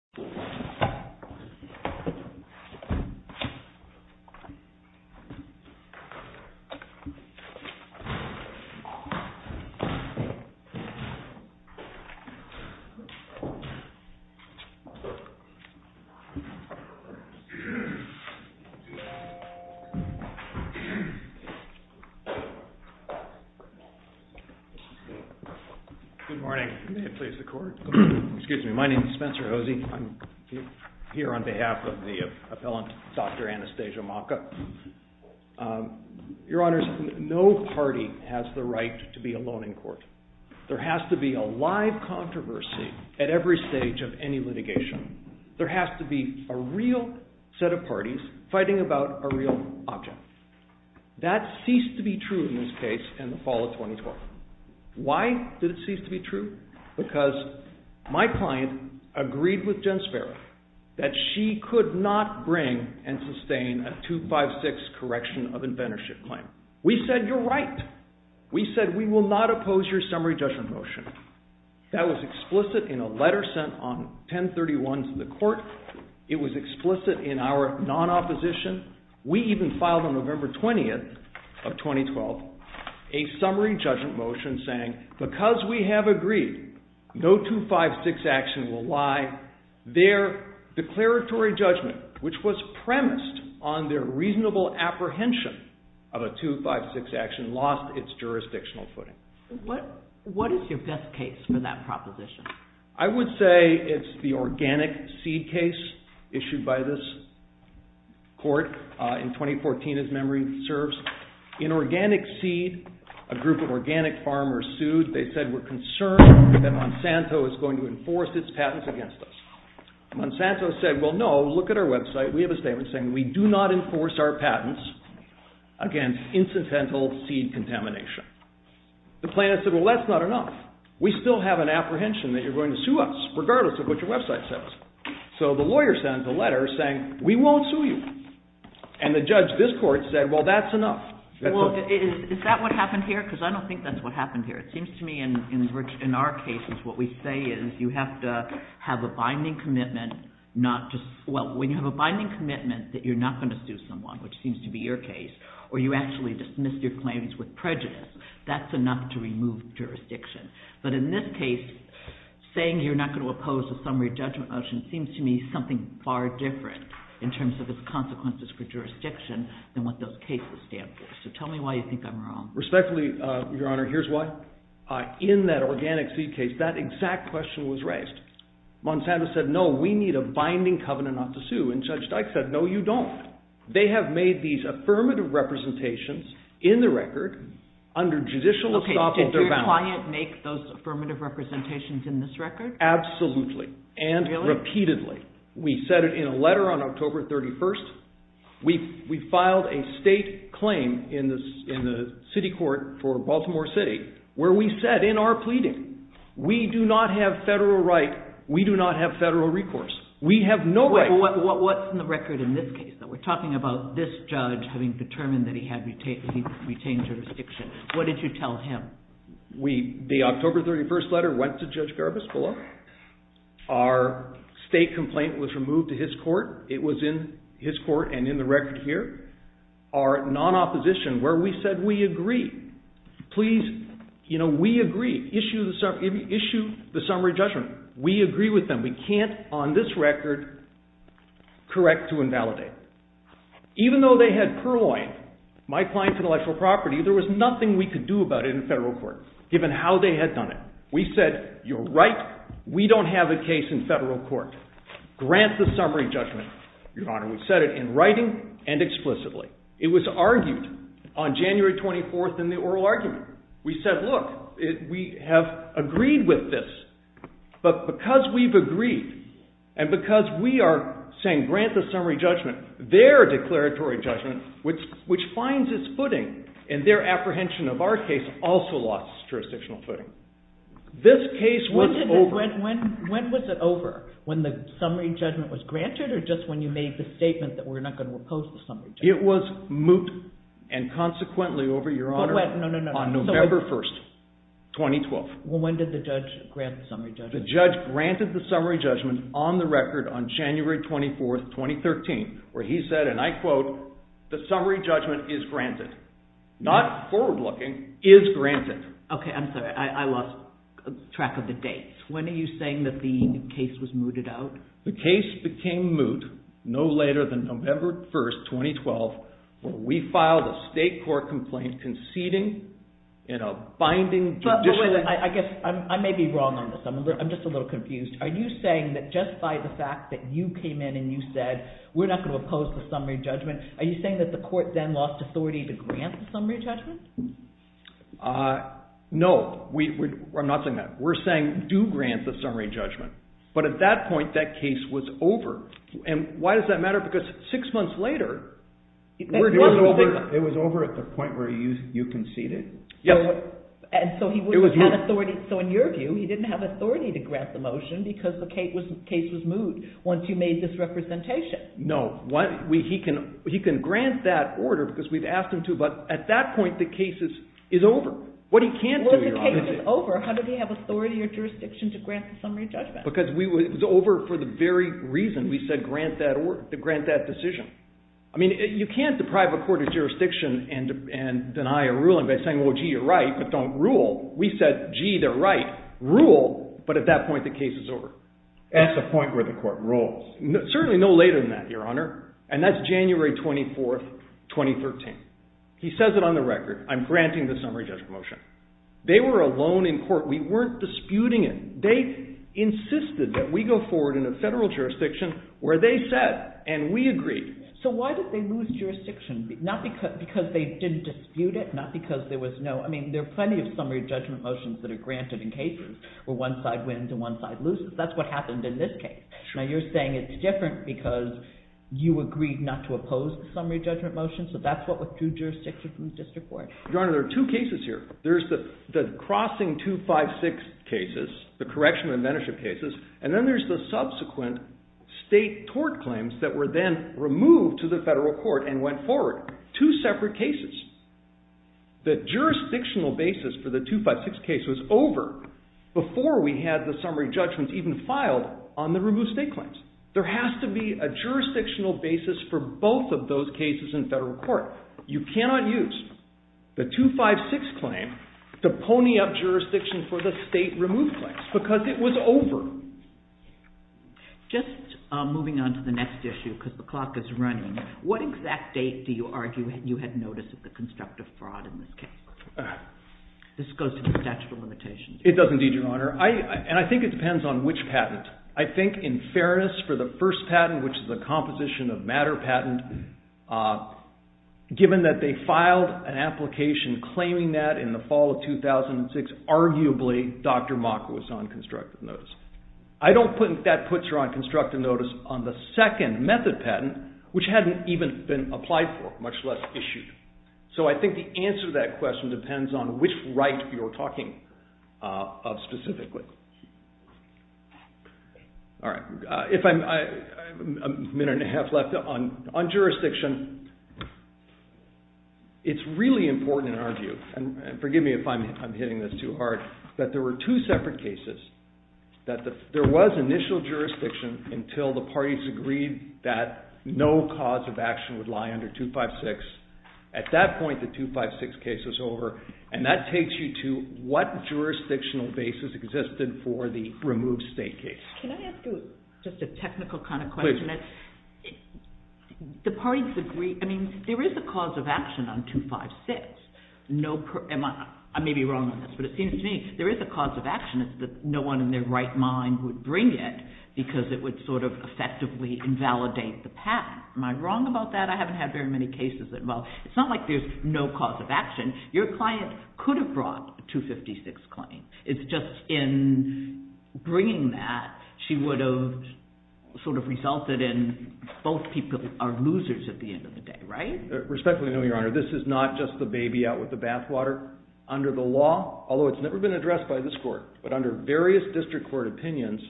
On 5 Wednesday, April 17, 1997, the Agency for the Prevention and Prevention of Itching I'm here on behalf of the appellant, Dr. Anastasia Maka. Your Honors, no party has the right to be alone in court. There has to be a live controversy at every stage of any litigation. There has to be a real set of parties fighting about a real object. That ceased to be true in this case in the fall of 2012. Why did it cease to be true? Because my client agreed with Jen Sparrow that she could not bring and sustain a 256 correction of inventorship claim. We said, you're right. We said, we will not oppose your summary judgment motion. That was explicit in a letter sent on 10-31 to the court. It was explicit in our non-opposition. We even filed on November 20th of 2012 a summary judgment motion saying, because we have agreed no 256 action will lie, their declaratory judgment, which was premised on their reasonable apprehension of a 256 action, lost its jurisdictional footing. What is your best case for that proposition? I would say it's the organic seed case issued by this court in 2014, as memory serves. In organic seed, a group of organic farmers sued. They said, we're concerned that Monsanto is going to enforce its patents against us. Monsanto said, well, no, look at our website. We have a statement saying, we do not enforce our patents against incidental seed contamination. The plaintiff said, well, that's not enough. We still have an apprehension that you're going to sue us, regardless of what your website says. So the lawyer sends a letter saying, we won't sue you. And the judge of this court said, well, that's enough. Well, is that what happened here? Because I don't think that's what happened here. It seems to me in our cases, what we say is, you have to have a binding commitment not to, well, when you have a binding commitment that you're not going to sue someone, which seems to be your case, or you actually dismiss your claims with prejudice, that's enough to remove jurisdiction. But in this case, saying you're not going to oppose a summary judgment motion seems to me something far different in terms of its consequences for jurisdiction than what those cases stand for. So tell me why you think I'm wrong. Respectfully, Your Honor, here's why. In that organic seed case, that exact question was raised. Monsanto said, no, we need a binding covenant not to sue. And Judge Dyke said, no, you don't. They have made these affirmative representations in the record under judicial estoppel of their boundaries. Did the client make those affirmative representations in this record? Absolutely. And repeatedly. We said it in a letter on October 31st. We filed a state claim in the city court for Baltimore City where we said in our pleading, we do not have federal right, we do not have federal recourse. We have no right. What's in the record in this case? We're talking about this judge having determined that he had retained jurisdiction. What did you tell him? The October 31st letter went to Judge Garbus below. Our state complaint was removed to his court. It was in his court and in the record here. Our non-opposition where we said, we agree. Please, you know, we agree. Issue the summary judgment. We agree with them. We can't on this record correct to invalidate. Even though they had purloined my client's intellectual property, there was nothing we could do about it in federal court how they had done it. We said, you're right, we don't have a case in federal court. Grant the summary judgment. Your Honor, we said it in writing and explicitly. It was argued on January 24th in the oral argument. We said, look, we have agreed with this. But because we've agreed and because we are saying grant the summary judgment, their declaratory judgment, which finds its footing and their apprehension of our case also lost jurisdictional footing. This case was over. When was it over? When the summary judgment was granted or just when you made the statement that we're not going to oppose the summary judgment? It was moot and consequently over, Your Honor, on November 1st, 2012. When did the judge grant the summary judgment? The judge granted the summary judgment on the record on January 24th, 2013 where he said, and I quote, the summary judgment is granted. Not forward-looking, is granted. Okay, I'm sorry. I lost track of the dates. When are you saying that the case was mooted out? The case became moot no later than November 1st, 2012 where we filed a state court complaint conceding in a binding condition. I guess I may be wrong on this. I'm just a little confused. Are you saying that just by the fact that you came in and you said we're not going to oppose the summary judgment, are you saying that the court then lost authority to grant the summary judgment? No. I'm not saying that. We're saying do grant the summary judgment. But at that point, that case was over. And why does that matter? Because six months later… It was over at the point where you conceded? Yes. So in your view, he didn't have authority to grant the motion because the case was moot once you made this representation. No. He can grant that order because we've asked him to, but at that point, the case is over. What he can't do, Your Honor… When the case is over, how did he have authority or jurisdiction to grant the summary judgment? Because it was over for the very reason we said grant that decision. I mean, you can't deprive a court of jurisdiction and deny a ruling by saying, well, gee, you're right, but don't rule. We said, gee, they're right, rule, but at that point, the case is over. That's the point where the court rules. Certainly no later than that, Your Honor. And that's January 24, 2013. He says it on the record. I'm granting the summary judgment motion. They were alone in court. We weren't disputing it. They insisted that we go forward in a federal jurisdiction where they said, and we agreed. So why did they lose jurisdiction? Not because they didn't dispute it, not because there was no… I mean, there are plenty of summary judgment motions that are granted in cases where one side wins and one side loses. That's what happened in this case. Now, you're saying it's different because you agreed not to oppose the summary judgment motion, so that's what withdrew jurisdiction from the district court. Your Honor, there are two cases here. There's the crossing 256 cases, the correction of inventorship cases, and then there's the subsequent state tort claims that were then removed to the federal court and went forward. Two separate cases. The jurisdictional basis for the 256 case was over before we had the summary judgments even filed on the removed state claims. There has to be a jurisdictional basis for both of those cases in federal court. You cannot use the 256 claim to pony up jurisdiction for the state removed claims because it was over. Just moving on to the next issue because the clock is running. What exact date do you argue you had notice of the constructive fraud in this case? This goes to the statute of limitations. It does indeed, Your Honor. I think it depends on which patent. I think in fairness for the first patent, which is a composition of matter patent, given that they filed an application claiming that in the fall of 2006, arguably Dr. Mock was on constructive notice. I don't think that puts her on constructive notice on the second method patent, which hadn't even been applied for, much less issued. So I think the answer to that question depends on which right you're talking of specifically. All right. A minute and a half left. On jurisdiction, it's really important in our view, and forgive me if I'm hitting this too hard, that there were two separate cases. There was initial jurisdiction until the parties agreed that no cause of action would lie under 256. At that point, the 256 case was over. And that takes you to what jurisdictional basis existed for the removed state case. Can I ask you just a technical kind of question? Please. The parties agree. I mean, there is a cause of action on 256. I may be wrong on this, but it seems to me there is a cause of action. It's that no one in their right mind would bring it because it would sort of effectively invalidate the patent. Am I wrong about that? I haven't had very many cases. It's not like there's no cause of action. Your client could have brought the 256 claim. It's just in bringing that, she would have sort of resulted in both people are losers at the end of the day, right? Respectfully, no, Your Honor. This is not just the baby out with the bathwater. Under the law, although it's never been addressed by this court, but under various district court opinions,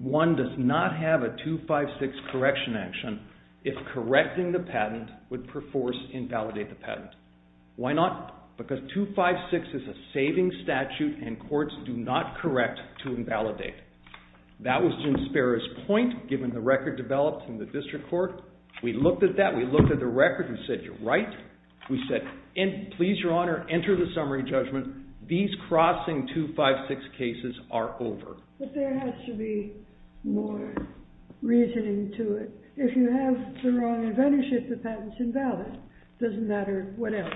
one does not have a 256 correction action if correcting the patent does not force invalidate the patent. Why not? Because 256 is a saving statute and courts do not correct to invalidate. That was Jim Sparrow's point given the record developed in the district court. We looked at that. We looked at the record and said, you're right. We said, please, Your Honor, enter the summary judgment. These crossing 256 cases are over. But there has to be more reasoning to it. If you have the wrong inventorship, the patent's invalid. It doesn't matter what else.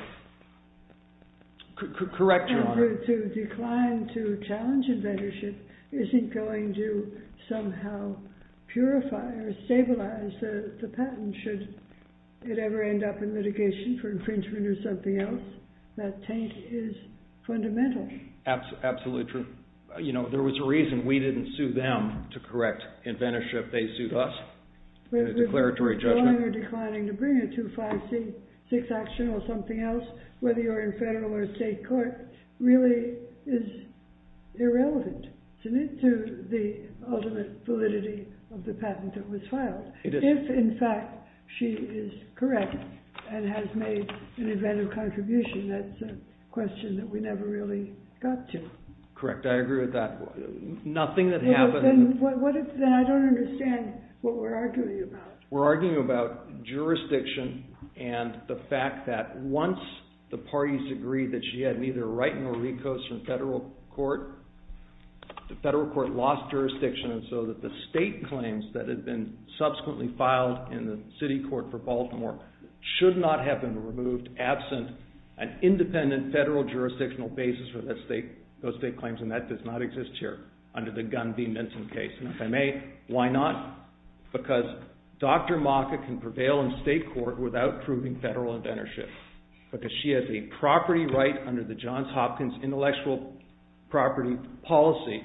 Correct, Your Honor. To decline to challenge inventorship isn't going to somehow purify or stabilize the patent should it ever end up in litigation for infringement or something else. That taint is fundamental. Absolutely true. There was a reason we didn't sue them to correct inventorship. They sued us in a declaratory judgment. If you're declining to bring a 256 action or something else, whether you're in federal or state court, really is irrelevant to the ultimate validity of the patent that was filed. If, in fact, she is correct and has made an inventive contribution, that's a question that we never really got to. Correct. I agree with that. Nothing that happened... Then I don't understand what we're arguing about. We're arguing about jurisdiction and the fact that once the parties agreed that she had neither Wright nor Ricos from federal court, the federal court lost jurisdiction so that the state claims that had been subsequently filed in the city court for Baltimore should not have been removed absent an independent federal jurisdictional basis for those state claims, and that does not exist here under the Gunn v. Minton case. And if I may, why not? Because Dr. Maka can prevail in state court without proving federal inventorship because she has a property right under the Johns Hopkins intellectual property policy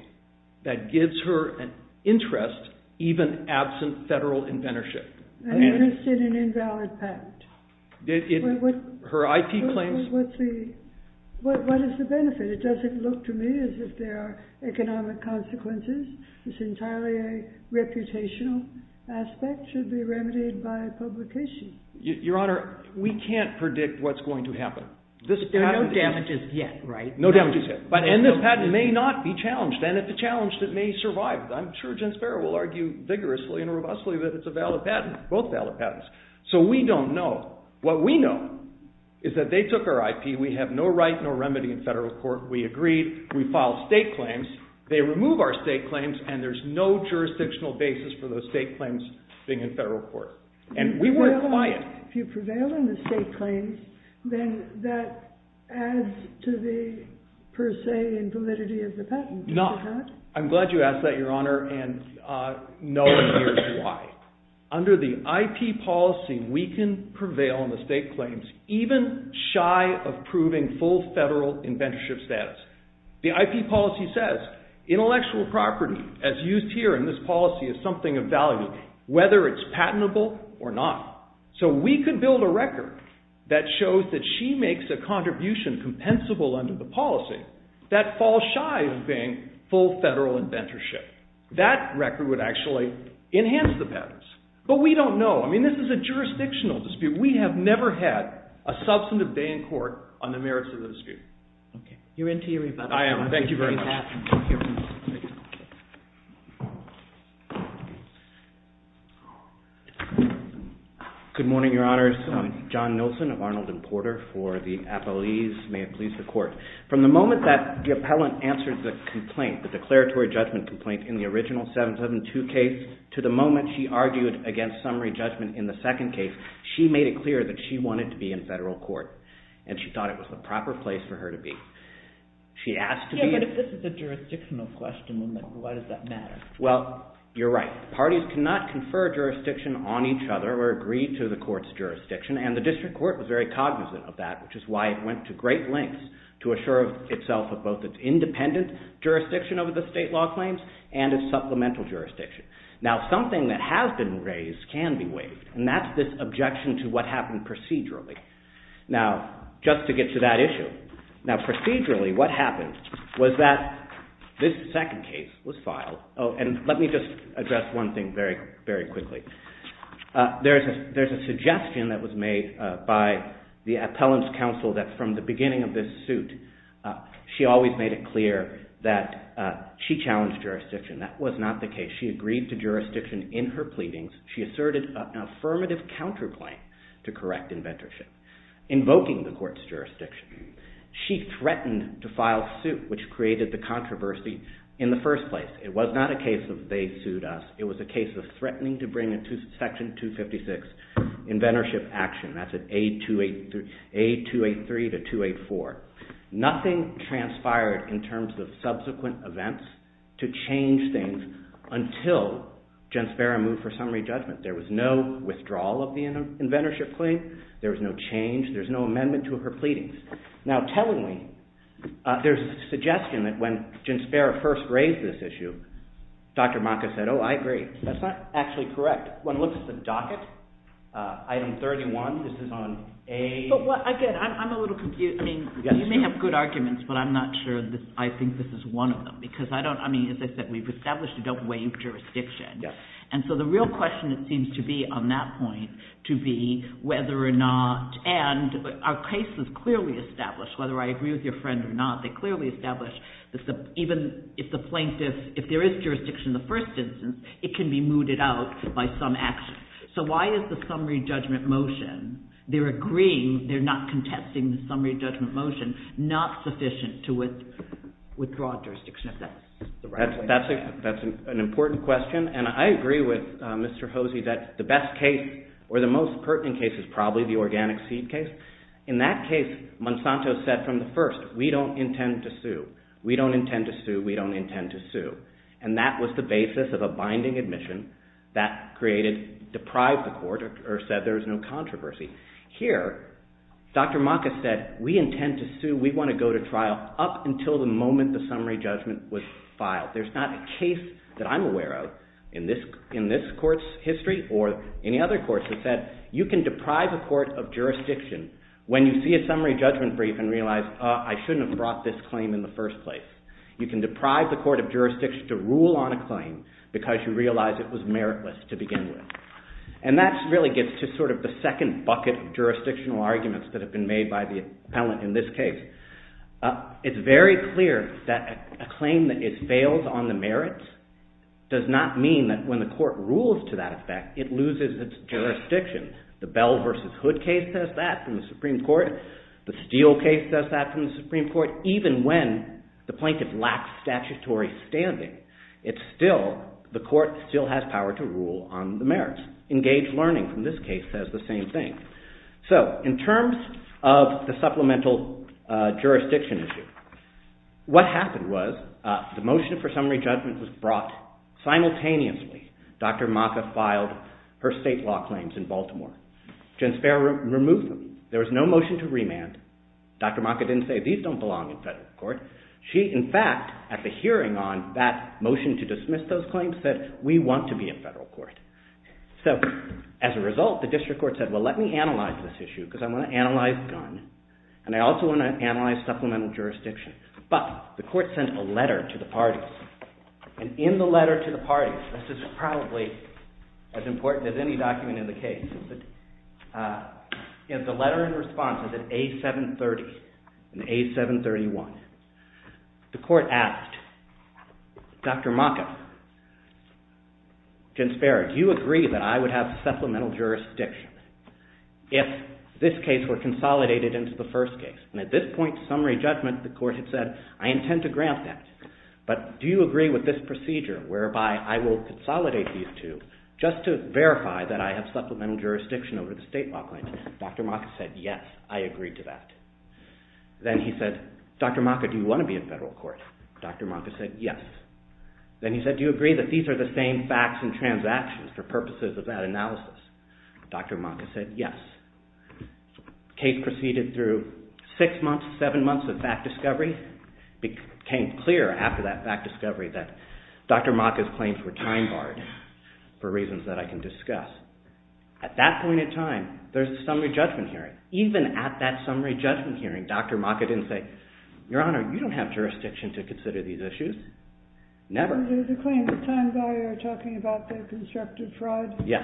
that gives her an interest even absent federal inventorship. An interest in an invalid patent. Her IP claims... What is the benefit? It doesn't look to me as if there are economic consequences. It's entirely a reputational aspect. It should be remedied by publication. Your Honor, we can't predict what's going to happen. There are no damages yet, right? No damages yet. And this patent may not be challenged and if it's challenged, it may survive. I'm sure Jen Sparrow will argue vigorously and robustly that it's a valid patent, both valid patents. So we don't know. What we know is that they took our IP. We have no right nor remedy in federal court. We agreed. We filed state claims. They remove our state claims and there's no jurisdictional basis for those state claims being in federal court. And we weren't quiet. If you prevail in the state claims, then that adds to the, per se, invalidity of the patent. No. I'm glad you asked that, Your Honor, and no one hears why. Under the IP policy, we can prevail in the state claims even shy of proving full federal inventorship status. The IP policy says intellectual property, as used here in this policy, is something of value, whether it's patentable or not. So we could build a record that shows that she makes a contribution compensable under the policy that falls shy of being full federal inventorship. That record would actually enhance the patents. But we don't know. I mean, this is a jurisdictional dispute. We have never had a substantive day in court on the merits of the dispute. Okay. You're into your rebuttal. I am. Thank you very much. Good morning, Your Honors. Good morning. John Nilsen of Arnold and Porter for the appellees. May it please the Court. From the moment that the appellant answered the complaint, the declaratory judgment complaint in the original 772 case made it very clear that she wanted to be in federal court and she thought it was the proper place for her to be. Yeah, but if this is a jurisdictional question, then why does that matter? Well, you're right. Parties cannot confer jurisdiction on each other or agree to the court's jurisdiction, and the District Court was very cognizant of that, which is why it went to great lengths to assure itself of both its independent jurisdiction over the state law claims and its supplemental jurisdiction. Now, something that has been raised can be waived, and that's this objection to what happened procedurally. Now, just to get to that issue. Now, procedurally, what happened was that this second case was filed. Oh, and let me just address one thing very quickly. There's a suggestion that was made by the appellant's counsel that from the beginning of this suit, she always made it clear that she challenged jurisdiction. That was not the case. She agreed to jurisdiction in her pleadings. She asserted an affirmative counterclaim to correct inventorship, invoking the court's jurisdiction. She threatened to file suit, which created the controversy in the first place. It was not a case of they sued us. It was a case of threatening to bring a Section 256 inventorship action. That's an A283 to 284. Nothing transpired in terms of subsequent events to change things until Genspera moved for summary judgment. There was no withdrawal of the inventorship claim. There was no change. There's no amendment to her pleadings. Now, tellingly, there's a suggestion that when Genspera first raised this issue, Dr. Maka said, oh, I agree. That's not actually correct. One looks at the docket, item 31. This is on A. Again, I'm a little confused. You may have good arguments, but I'm not sure I think this is one of them. As I said, we've established we don't waive jurisdiction. The real question, it seems to be, on that point, to be whether or not, and our case is clearly established, whether I agree with your friend or not. They clearly establish even if the plaintiff, if there is jurisdiction in the first instance, it can be mooted out by some action. Why is the summary judgment motion, they're agreeing, they're not contesting the summary judgment motion, not sufficient to withdraw jurisdiction? That's an important question. I agree with Mr. Hosey that the best case or the most pertinent case is probably the organic seed case. In that case, Monsanto said from the first, we don't intend to sue. We don't intend to sue. We don't intend to sue. That was the basis of a binding admission that created, deprived the court or said there was no controversy. Here, Dr. Maka said, we intend to sue. We want to go to trial up until the moment the summary judgment was filed. There's not a case that I'm aware of in this court's history or any other court that said you can deprive a court of jurisdiction when you see a summary judgment brief and realize, I shouldn't have brought this claim in the first place. You can deprive the court of jurisdiction to rule on a claim because you realize it was meritless to begin with. That really gets to the second bucket of jurisdictional arguments that have been made by the appellant in this case. It's very clear that a claim that it fails on the merits does not mean that when the court rules to that effect, it loses its jurisdiction. The Bell v. Hood case says that from the Supreme Court. The Steele case says that from the Supreme Court. Even when the plaintiff lacks statutory standing, it's still, the court still has power to rule on the merits. Engaged learning from this case says the same thing. In terms of the supplemental jurisdiction issue, what happened was the motion for summary judgment was brought simultaneously. Dr. Maka filed her state law claims in Baltimore. Jen Speier removed them. There was no motion to remand. Dr. Maka didn't say these don't belong in federal court. She, in fact, at the hearing on that motion to dismiss those claims, said we want to be in federal court. As a result, the district court said, well, let me analyze this issue because I want to analyze gun and I also want to analyze supplemental jurisdiction. But the court sent a letter to the parties and in the letter to the parties, this is probably as important as any document in the case, the letter in response is at A730 and A731. The court asked, Dr. Maka, Jen Speier, do you agree that I would have supplemental jurisdiction if this case were consolidated into the first case? And at this point, summary judgment, the court had said, I intend to grant that. But do you agree with this procedure whereby I will consolidate these two just to verify that I have supplemental jurisdiction over the state law claims? Dr. Maka said, yes, I agree to that. Then he said, Dr. Maka, do you want to be in federal court? Dr. Maka said, yes. Then he said, do you agree that these are the same facts and transactions for purposes of that analysis? Dr. Maka said, yes. The case proceeded through six months, seven months of fact discovery. It became clear after that fact discovery that Dr. Maka's claims were time-barred for reasons that I can discuss. At that point in time, there's a summary judgment hearing. Even at that summary judgment hearing, Dr. Maka didn't say, Your Honor, you don't have jurisdiction to consider these issues. Never. There's a claim for time-bar talking about the constructive fraud. Yes.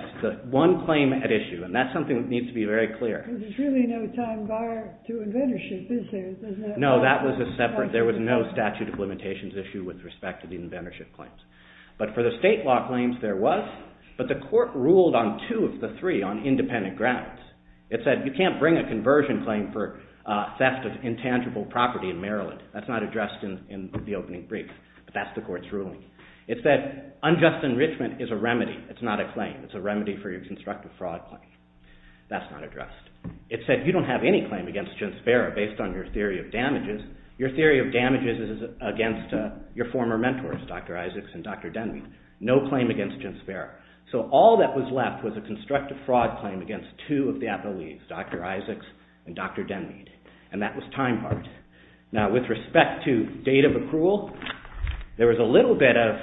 One claim at issue. That's something that needs to be very clear. There's really no time-bar to inventorship, is there? No. That was a separate, there was no statute of limitations issue with respect to the inventorship claims. For the state law claims, there was, but the court ruled on two of the three on independent grounds. It said, you can't bring a conversion claim for theft of intangible property in Maryland. That's not addressed in the opening brief. That's the court's ruling. It said, unjust enrichment is a remedy. It's not a claim. It's a remedy for your constructive fraud claim. That's not addressed. It said, you don't have any claim against Jim Sparrow based on your theory of damages. Your theory of damages is against your former mentors, Dr. Isaacs and Dr. Denmeade. No claim against Jim Sparrow. So all that was left was a constructive fraud claim against two of the appellees, Dr. Isaacs and Dr. Denmeade, and that was time-barred. Now, with respect to date of accrual, there was a little bit of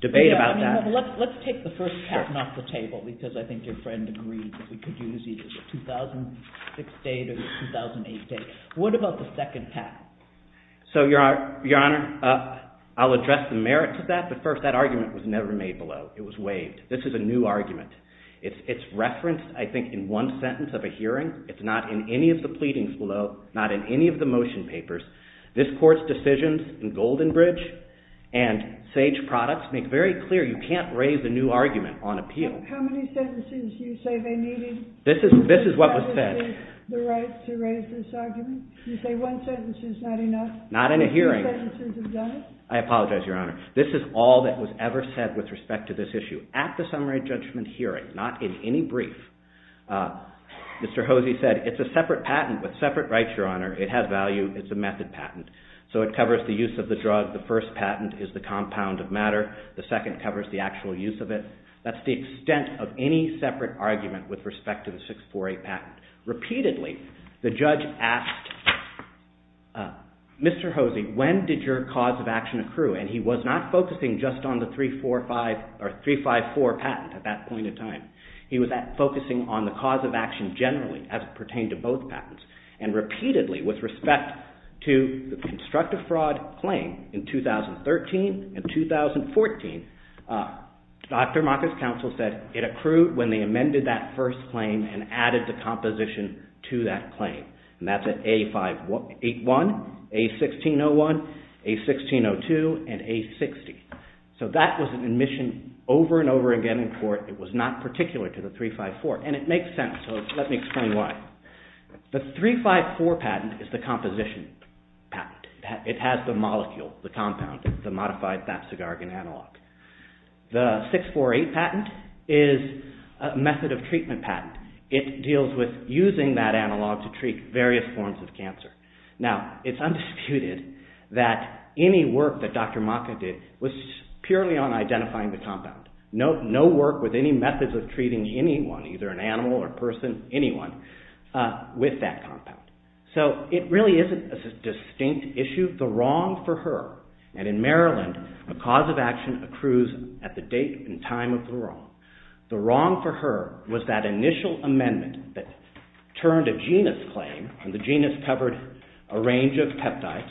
debate about that. Let's take the first patent off the table because I think your friend agreed that we could use either the 2006 date or the 2008 date. What about the second patent? So, Your Honor, I'll address the merits of that, but first, that argument was never made below. It was waived. This is a new argument. It's referenced, I think, in one sentence of a hearing. It's not in any of the pleadings below, not in any of the motion papers. This court's decisions in Goldenbridge and Sage Products make very clear you can't raise a new argument on appeal. How many sentences do you say they needed? This is what was said. The right to raise this argument? You say one sentence is not enough? Not in a hearing. Two sentences have done it? I apologize, Your Honor. This is all that was ever said with respect to this issue. At the summary judgment hearing, not in any brief, Mr. Hosey said, it's a separate patent with separate rights, Your Honor. It has value. It's a method patent. So it covers the use of the drug. The first patent is the compound of matter. The second covers the actual use of it. That's the extent of any separate argument with respect to the 648 patent. Repeatedly, the judge asked, Mr. Hosey, when did your cause of action accrue? And he was not focusing just on the 345, or 354 patent at that point in time. He was focusing on the cause of action generally, as it pertained to both patents. And repeatedly, with respect to the patent, he said, if you construct a fraud claim in 2013 and 2014, Dr. Maka's counsel said it accrued when they amended that first claim and added the composition to that claim. And that's at A51, A1601, A1602, and A60. So that was an admission over and over again And it makes sense. So let me explain why. The 354 patent is the composition patent. The 354 patent is the composition patent. The 354 patent is the composition patent. It has the molecule, the compound, the modified Babcigargan analog. The 648 patent is a method of treatment patent. It deals with using that analog to treat various forms of cancer. Now, it's undisputed that any work that Dr. Maka did was purely on identifying the compound. No work with any methods of treating anyone, either an animal or a person, anyone, with that compound. So it really isn't a distinct issue. The wrong for her, and in Maryland, a cause of action accrues at the date and time of the wrong, the wrong for her was that initial amendment that turned a genus claim, and the genus covered a range of peptides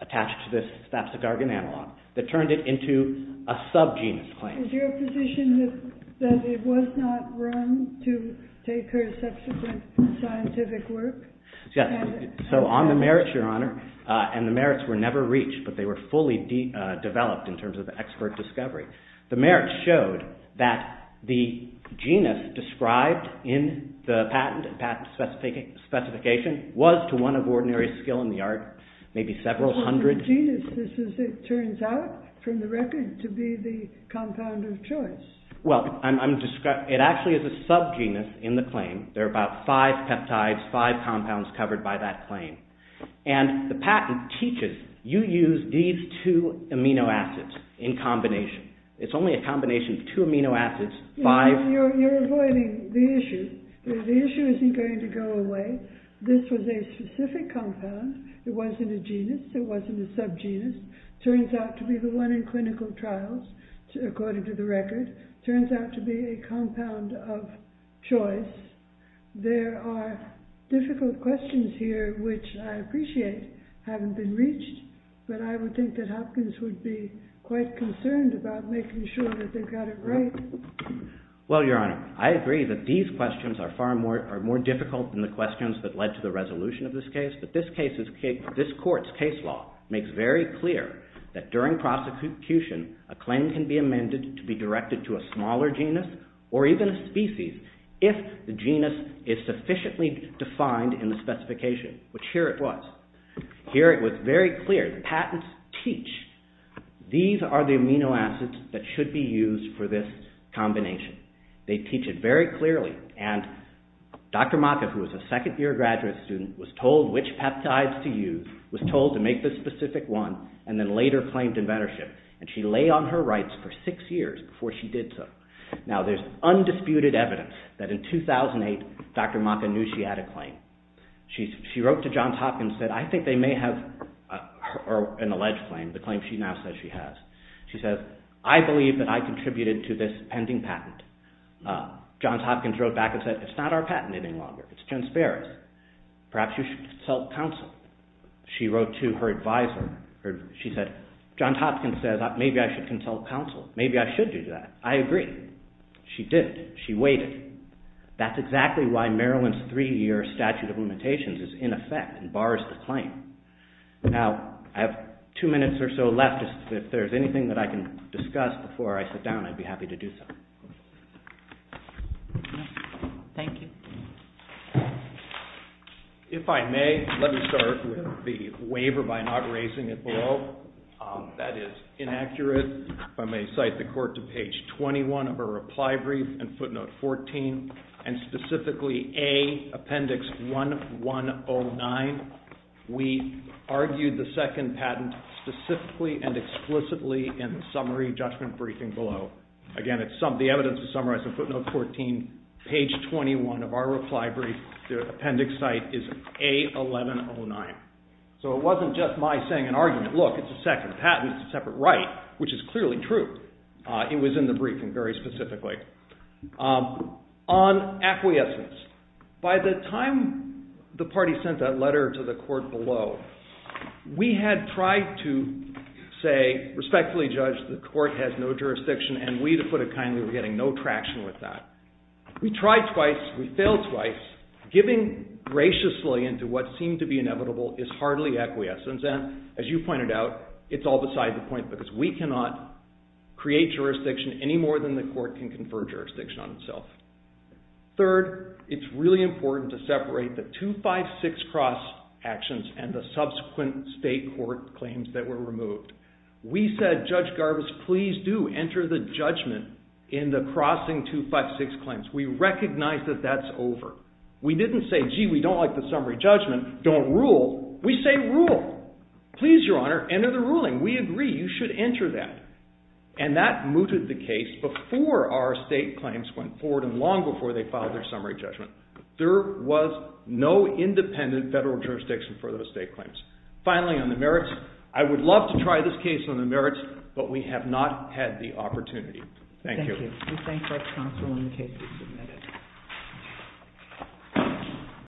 attached to this Babcigargan analog, that turned it into a sub-genus claim. Is your position that it was not wrong to take her subsequent scientific work? Yes. So on the merits, Your Honor, and the merits were never reached, but they were fully developed in terms of expert discovery. The merits showed that the genus described in the patent and patent specification was to one of ordinary skill in the art, maybe several hundred... Well, the genus is, as it turns out from the record, to be the compound of choice. Well, it actually is a sub-genus in the claim. There are about five peptides, five compounds covered by that claim. And the patent teaches you use these two amino acids in combination. It's only a combination of two amino acids, five... You're avoiding the issue. The issue isn't going to go away. This was a specific compound. It wasn't a genus. It wasn't a sub-genus. It turns out to be the one in clinical trials, according to the record. It turns out to be a compound of choice. There are difficult questions here, which I appreciate haven't been reached. But I would think that Hopkins would be quite concerned about making sure that they've got it right. Well, Your Honor, I agree that these questions are far more difficult than the questions that led to the resolution of this case. But this court's case law makes very clear that during prosecution, a claim can be amended to be directed to a smaller genus or even a species if the genus is sufficiently defined in the specification, which here it was. Here it was very clear. Patents teach these are the amino acids that should be in the this is a case where the second year graduate student was told which peptides to use, was told to make this specific one, and then later claimed in mentorship. And she lay on her rights for six years before she did so. Now, there's undisputed evidence that in 2008, Dr. Johns Hopkins said, I think they may have an alleged claim, the claim she now says she has. She says, I believe that I contributed to this pending patent. Johns Hopkins wrote back and said, it's not our patent any longer. It's conspiracy. Perhaps you should consult counsel. She wrote to her advisor. She said, Johns Hopkins says maybe I should consult counsel. Maybe I should do that. I agree. She did. She waited. That's exactly why Maryland's three-year statute of limitations is in effect and bars the claim. Now, I have two minutes or so left. If there's anything I can discuss before I sit down, I'd be happy to do so. Thank you. If I may, let me start with the waiver by not raising it below. That is inaccurate. If I may cite the court to page 21 of a reply brief and footnote 14 and specifically A, appendix 1109. We argued the second patent specifically and explicitly in the summary judgment briefing below. Again, the evidence is summarized in footnote 14, page 21 of our reply brief. The appendix site is A, 1109. So it wasn't just my saying an argument. Look, it's a second patent. It's a separate right, which is clearly true. It was in the briefing very specifically. On acquiescence, by the time the court had no jurisdiction and we were getting no traction with that. We tried twice. We failed twice. Giving graciously into what seemed to be inevitable is hardly acquiescence. As you pointed out, it's all beside the point because we cannot create jurisdiction any more than the court can confer jurisdiction on itself. Third, it's really important to separate the 256 cross actions and the subsequent state court claims that were removed. We said, Judge Garbus, please do enter the judgment in the crossing 256 claims. We recognized that that's over. We didn't say, gee, we don't have the jurisdiction for our state claims. There was no independent federal jurisdiction for those state claims. Finally, on the merits, I would love to try this case on the merits, but we have not had the opportunity. Thank you. Thank you. We thank the counsel in the case that was submitted.